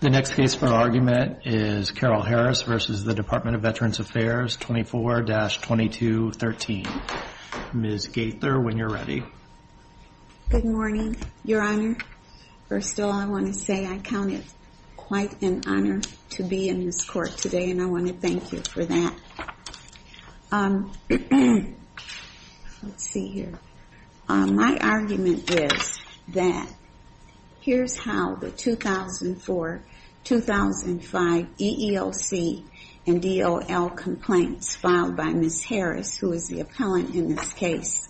The next case for argument is Carol-Harris v. DVA 24-2213 Ms. Gaither, when you're ready. Good morning, your honor. First of all, I want to say I count it quite an honor to be in this court today and I want to thank you for that. My argument is that here's how the 2004-2005 EEOC and DOL complaints filed by Ms. Harris, who is the appellant in this case,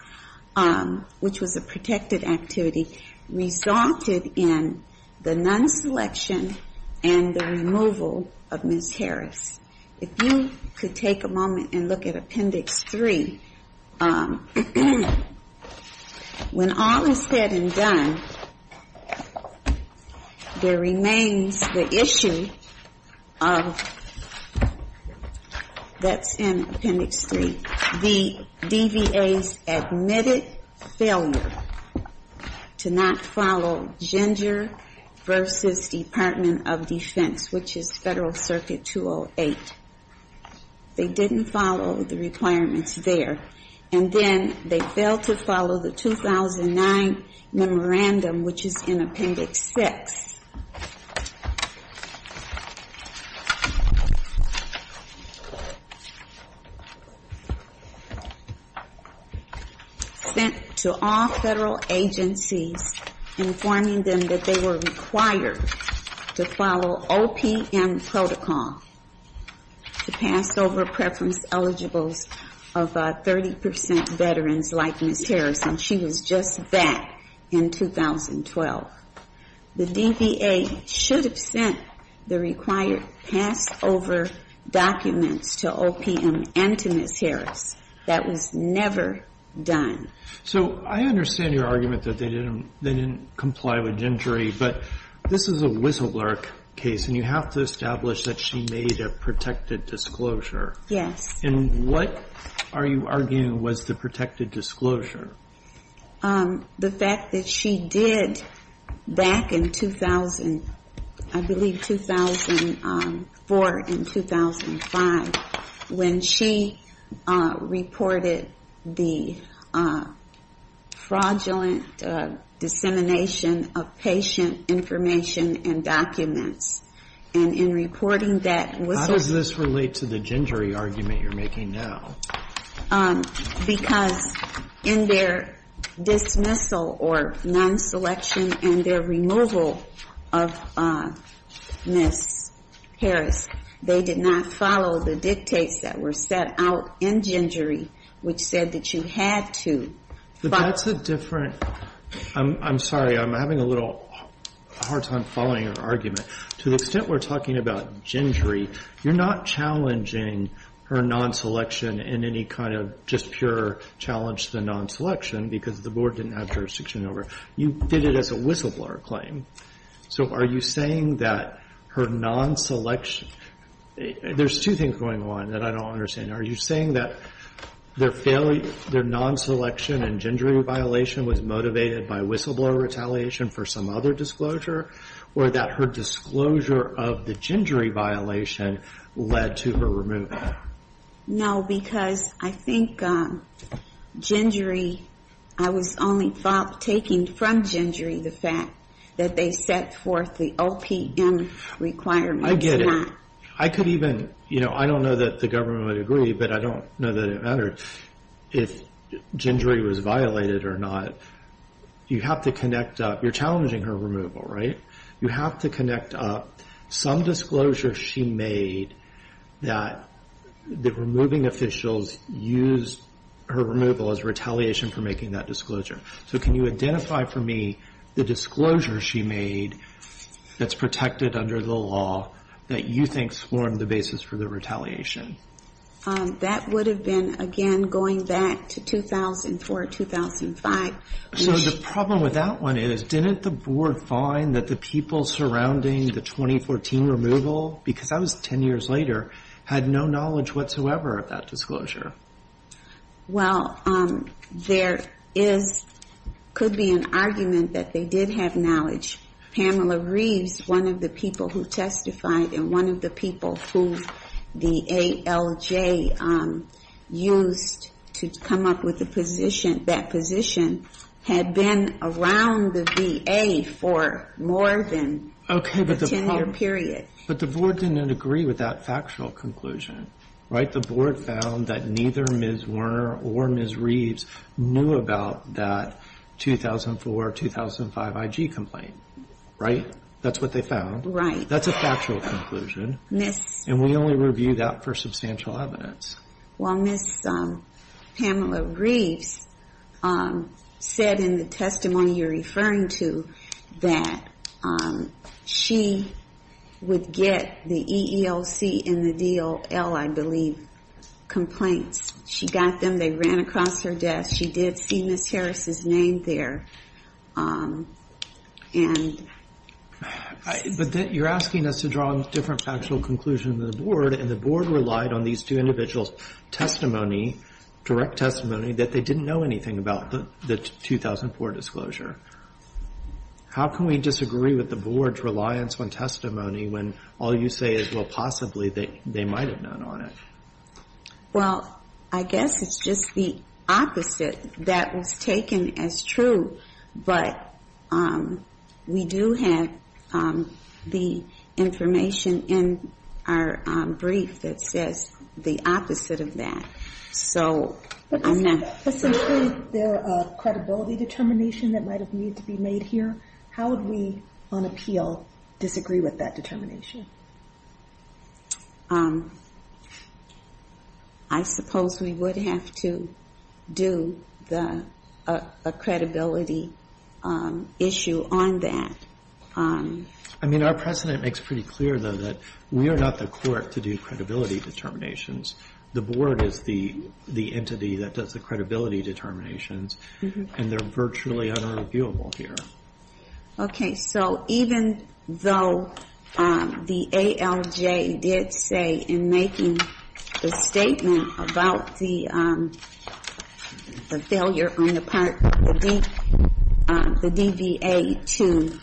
which was a protected activity, resulted in the non-selection and the removal of Ms. Harris. If you could take a moment and look at Appendix 3. When all is said and done, there remains the issue of, that's in Appendix 3, the DVA's admitted failure to not follow gender versus Department of Defense, which is Federal Circuit 208. They didn't follow the requirements there. And then, they failed to follow the 2009 memorandum, which is in Appendix 6. Sent to all federal agencies, informing them that they were required to follow OPM protocol to pass over preference eligibles of 30% veterans like Ms. Harris, and she was just that in 2012. The DVA should have sent the required pass over documents to OPM and to Ms. Harris. That was never done. So, I understand your argument that they didn't comply with gender, but this is a whistleblower case, and you have to establish that she made a protected disclosure. Yes. And what are you arguing was the protected disclosure? The fact that she did, back in 2000, I believe 2004 and 2005, when she reported the fraudulent dissemination of patient information and documents, and in reporting that whistleblower. How does this relate to the gingery argument you're making now? Because in their dismissal or non-selection and their removal of Ms. Harris, they did not follow the dictates that were set out in gingery, which said that you had to. But that's a different, I'm sorry, I'm having a little hard time following your argument. To the extent we're talking about gingery, you're not challenging her non-selection in any kind of just pure challenge to the non-selection because the Board didn't have jurisdiction over it. You did it as a whistleblower claim. So, are you saying that her non-selection, there's two things going on that I don't understand. Are you saying that their non-selection and gingery violation was motivated by whistleblower retaliation for some other disclosure? Or that her disclosure of the gingery violation led to her removal? No, because I think gingery, I was only taking from gingery the fact that they set forth the OPM requirements. I get it. I could even, you know, I don't know that the government would agree, but I don't know that it mattered if gingery was violated or not. You have to connect up, you're challenging her removal, right? You have to connect up some disclosure she made that the removing officials used her removal as retaliation for making that disclosure. So, can you identify for me the disclosure she made that's protected under the law that you think formed the basis for the retaliation? That would have been, again, going back to 2004, 2005. So, the problem with that one is, didn't the board find that the people surrounding the 2014 removal, because that was 10 years later, had no knowledge whatsoever of that disclosure? Well, there is, could be an argument that they did have knowledge. Pamela Reeves, one of the people who testified and one of the people who the ALJ used to come up with the position, that position had been around the VA for more than a 10-year period. But the board didn't agree with that factual conclusion, right? The board found that neither Ms. Werner or Ms. Reeves knew about that 2004, 2005 IG complaint. Right? That's what they found. That's a factual conclusion. And we only review that for substantial evidence. Well, Ms. Pamela Reeves said in the testimony you're referring to that she would get the EEOC and the DOL, I believe, complaints. She got them. They ran across her desk. She did see Ms. Harris's name there. And... But you're asking us to draw a different factual conclusion than the board, and the board relied on these two individuals' testimony, direct testimony, that they didn't know anything about the 2004 disclosure. How can we disagree with the board's reliance on testimony when all you say is, well, possibly they might have known on it? Well, I guess it's just the opposite that was taken as true. But we do have the information in our brief that says the opposite of that. So I'm not... But essentially, there are credibility determinations that might have needed to be made here. How would we, on appeal, disagree with that determination? I suppose we would have to do the credibility issue on that. I mean, our precedent makes pretty clear, though, that we are not the court to do credibility determinations. The board is the entity that does the credibility determinations, and they're virtually unreviewable here. Okay. So even though the ALJ did say in making the statement about the failure on the part, the DBA to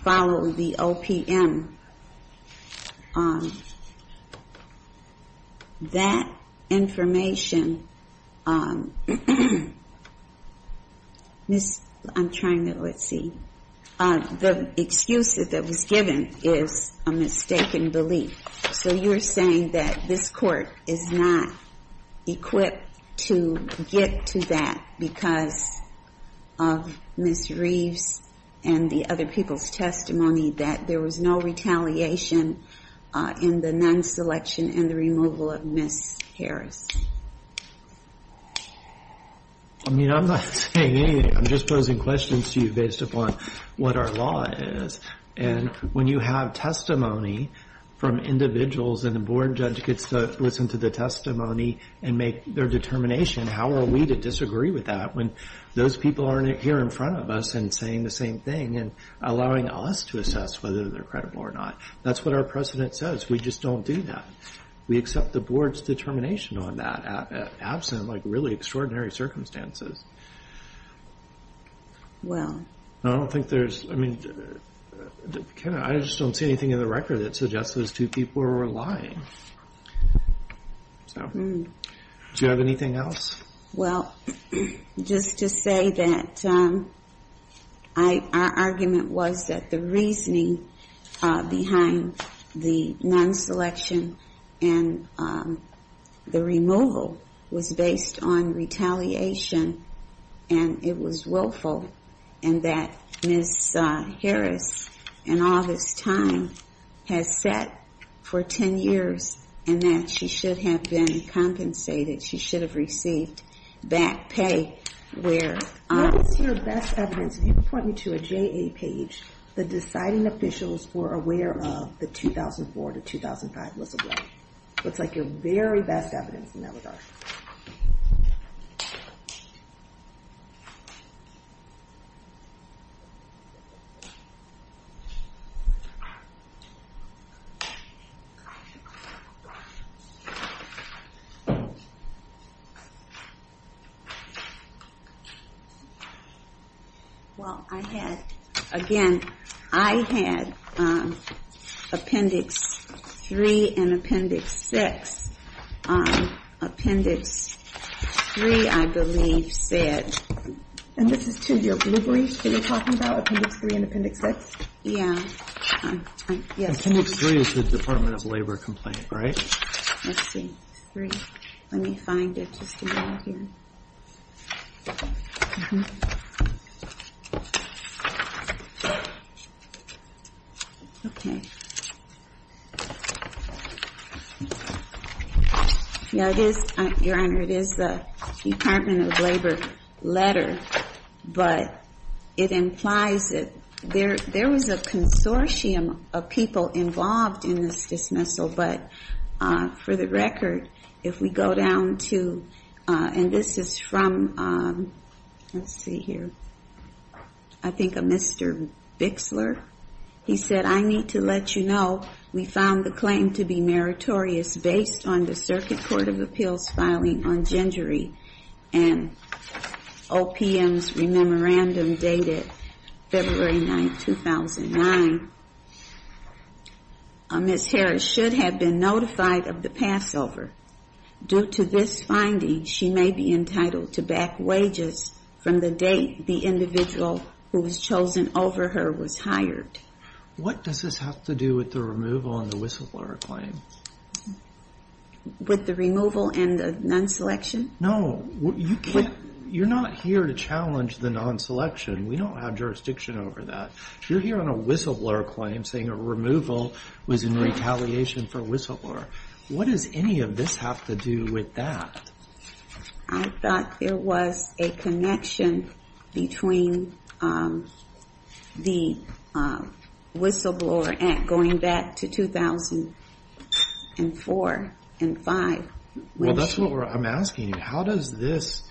follow the OPM, that information... Miss... I'm trying to... Let's see. The excuse that was given is a mistaken belief. So you're saying that this court is not equipped to get to that because of Miss Reeves and the other people's testimony, that there was no retaliation in the non-selection and the removal of Miss Harris? I mean, I'm not saying anything. I'm just posing questions to you based upon what our law is. And when you have testimony from individuals and the board judge gets to listen to the testimony and make their determination, how are we to disagree with that when those people aren't here in front of us and saying the same thing and allowing us to assess whether they're credible or not? That's what our precedent says. We just don't do that. We accept the board's determination on that absent really extraordinary circumstances. Well... I don't think there's... I mean, I just don't see anything in the record that suggests those two people were lying. So do you have anything else? Well, just to say that our argument was that the reasoning behind the non-selection and the removal was based on retaliation, and it was willful, and that Miss Harris in all this time has sat for 10 years, and that she should have been compensated. She should have received back pay where... What is your best evidence? If you point me to a JA page, the deciding officials were aware of the 2004 to 2005 whistleblower. Looks like your very best evidence in that regard. Well, I had, again, I had Appendix 3 and Appendix 6. Appendix 3, I believe, said... And this is to your blue brief that you're talking about, Appendix 3 and Appendix 6? Yeah. Appendix 3 is the Department of Labor complaint, right? Let's see. Let me find it. Let me find it just a moment here. Okay. Now, it is, Your Honor, it is the Department of Labor letter, but it implies that there was a consortium of people involved in this dismissal. But for the record, if we go down to... And this is from, let's see here, I think a Mr. Bixler. He said, I need to let you know we found the claim to be meritorious based on the Circuit Court of Appeals filing on gingery and OPM's memorandum dated February 9, 2009. Ms. Harris should have been notified of the passover. Due to this finding, she may be entitled to back wages from the date the individual who was chosen over her was hired. What does this have to do with the removal and the whistleblower claim? With the removal and the non-selection? No. You can't, you're not here to challenge the non-selection. We don't have jurisdiction over that. You're here on a whistleblower claim saying a removal was in retaliation for whistleblower. What does any of this have to do with that? I thought there was a connection between the whistleblower act going back to 2004 and 5. Well, that's what I'm asking you. How does this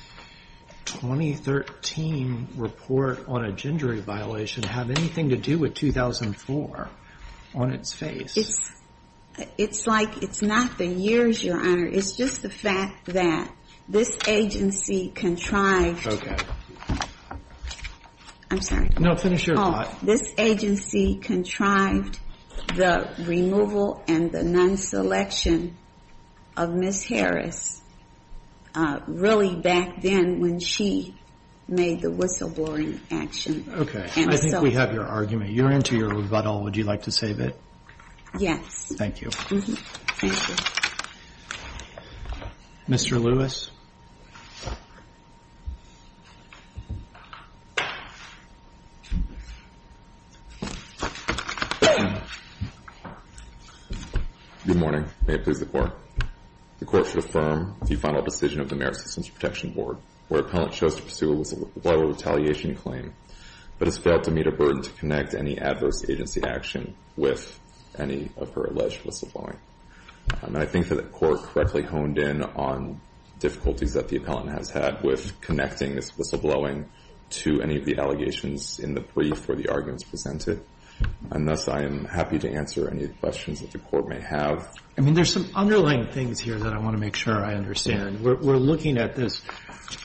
2013 report on a gingery violation have anything to do with 2004 on its face? It's like it's not the years, Your Honor. It's just the fact that this agency contrived. Okay. I'm sorry. No, finish your thought. This agency contrived the removal and the non-selection of Ms. Harris, really back then when she made the whistleblowing action. Okay. I think we have your argument. You're into your rebuttal. Would you like to save it? Yes. Thank you. Mr. Lewis. Thank you. Good morning. May it please the Court. The Court should affirm the final decision of the Merit Systems Protection Board, where an appellant chose to pursue a whistleblower retaliation claim, but has failed to meet a burden to connect any adverse agency action with any of her alleged whistleblowing. I think that the Court correctly honed in on difficulties that the appellant has had with connecting this whistleblowing to any of the allegations in the brief where the argument is presented. And thus, I am happy to answer any questions that the Court may have. I mean, there's some underlying things here that I want to make sure I understand. We're looking at this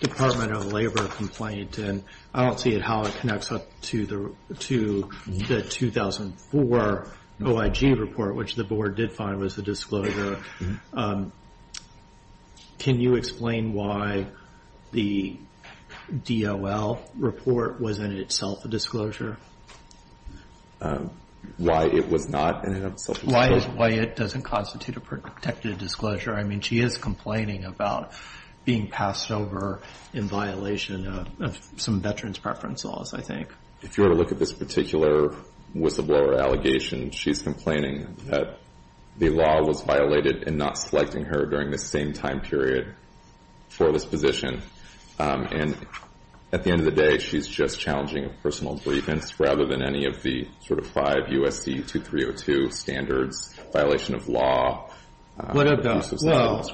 Department of Labor complaint, and I don't see it how it connects up to the 2004 OIG report, which the Board did find was the disclosure. Can you explain why the DOL report was, in itself, a disclosure? Why it was not in itself a disclosure? Why it doesn't constitute a protected disclosure. I mean, she is complaining about being passed over in violation of some veterans preference laws, I think. If you were to look at this particular whistleblower allegation, she's complaining that the law was violated in not selecting her during the same time period for this position. And at the end of the day, she's just challenging a personal grievance rather than any of the sort of five USC 2302 standards, violation of law. What about, well,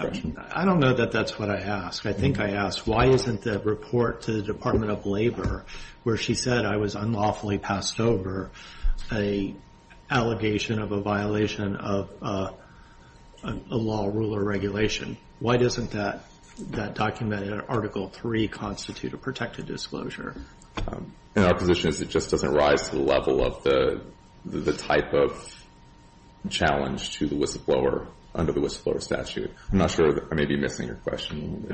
I don't know that that's what I asked. I think I asked, why isn't the report to the Department of Labor where she said I was unlawfully passed over an allegation of a violation of a law, rule, or regulation? Why doesn't that document in Article 3 constitute a protected disclosure? In our position, it just doesn't rise to the level of the type of challenge to the whistleblower under the whistleblower statute. I'm not sure I may be missing your question.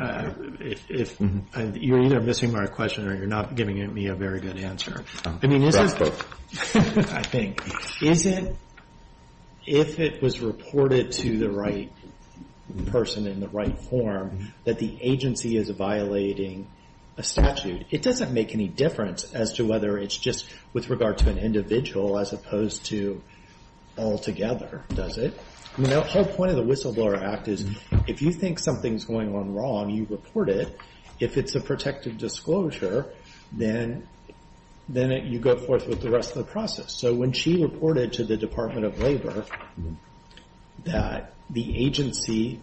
If you're either missing my question or you're not giving me a very good answer. I mean, I think if it was reported to the right person in the right form that the agency is violating a statute, it doesn't make any difference as to whether it's just with regard to an individual as opposed to all together, does it? The whole point of the Whistleblower Act is if you think something's going on wrong, you report it. If it's a protected disclosure, then you go forth with the rest of the process. So when she reported to the Department of Labor that the agency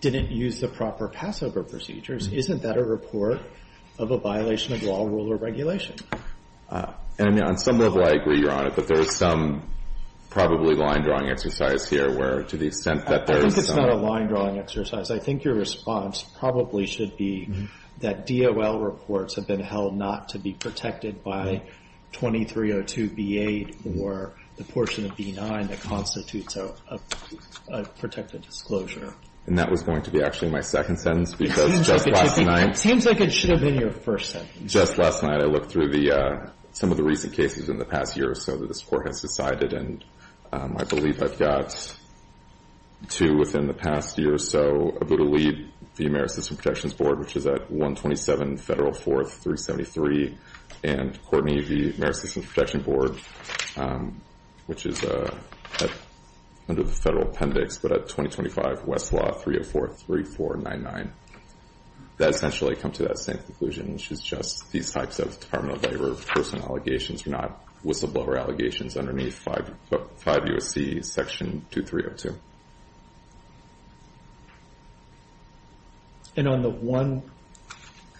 didn't use the proper passover procedures, isn't that a report of a violation of law, rule, or regulation? And, I mean, on some level, I agree you're on it. But there is some probably line drawing exercise here where to the extent that there's not a line drawing exercise, I think your response probably should be that DOL reports have been held not to be protected by 2302b8 or the portion of b9 that constitutes a protected disclosure. And that was going to be actually my second sentence because just last night. It seems like it should have been your first sentence. Just last night, I looked through some of the recent cases in the past year or so that this court has decided. And I believe I've got two within the past year or so. Abud Ali, the Ameri-Systems Protections Board, which is at 127 Federal 4373. And Courtney, the Ameri-Systems Protection Board, which is under the federal appendix, but at 2025 Westlaw 3043499. That essentially comes to that same conclusion, which is just these types of Department of Personal Allegations are not whistleblower allegations underneath 5 U.S.C. section 2302. And on the one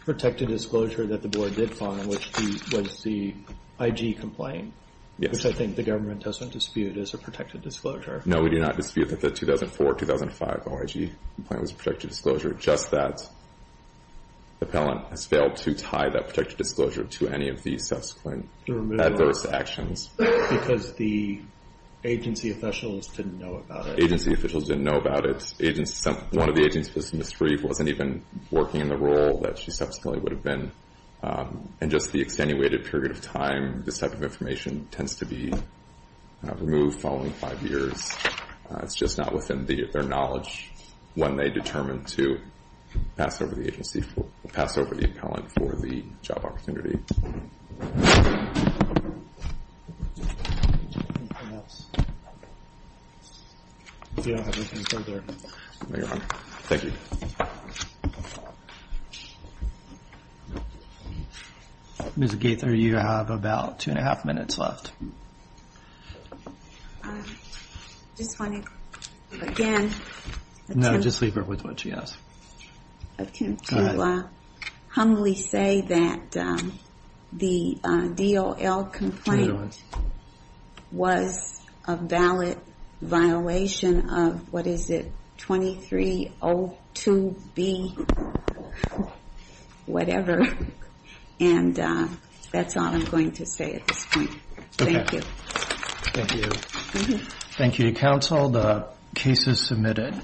protected disclosure that the board did find, which was the IG complaint, which I think the government doesn't dispute is a protected disclosure. No, we do not dispute that the 2004-2005 OIG complaint was a protected disclosure. Just that the appellant has failed to tie that protected disclosure to any of these subsequent adverse actions. Because the agency officials didn't know about it. Agency officials didn't know about it. One of the agents, Ms. Reeve, wasn't even working in the role that she subsequently would have been. And just the extenuated period of time, this type of information tends to be removed following five years. It's just not within their knowledge when they determine to pass over the agency, pass over the appellant for the job opportunity. Ms. Gaither, you have about two and a half minutes left. Just want to, again, attempt to humbly say that the DOL complaint was a valid violation of, what is it, 2302B whatever. And that's all I'm going to say at this point. Thank you. Thank you. Thank you, counsel. The case is submitted.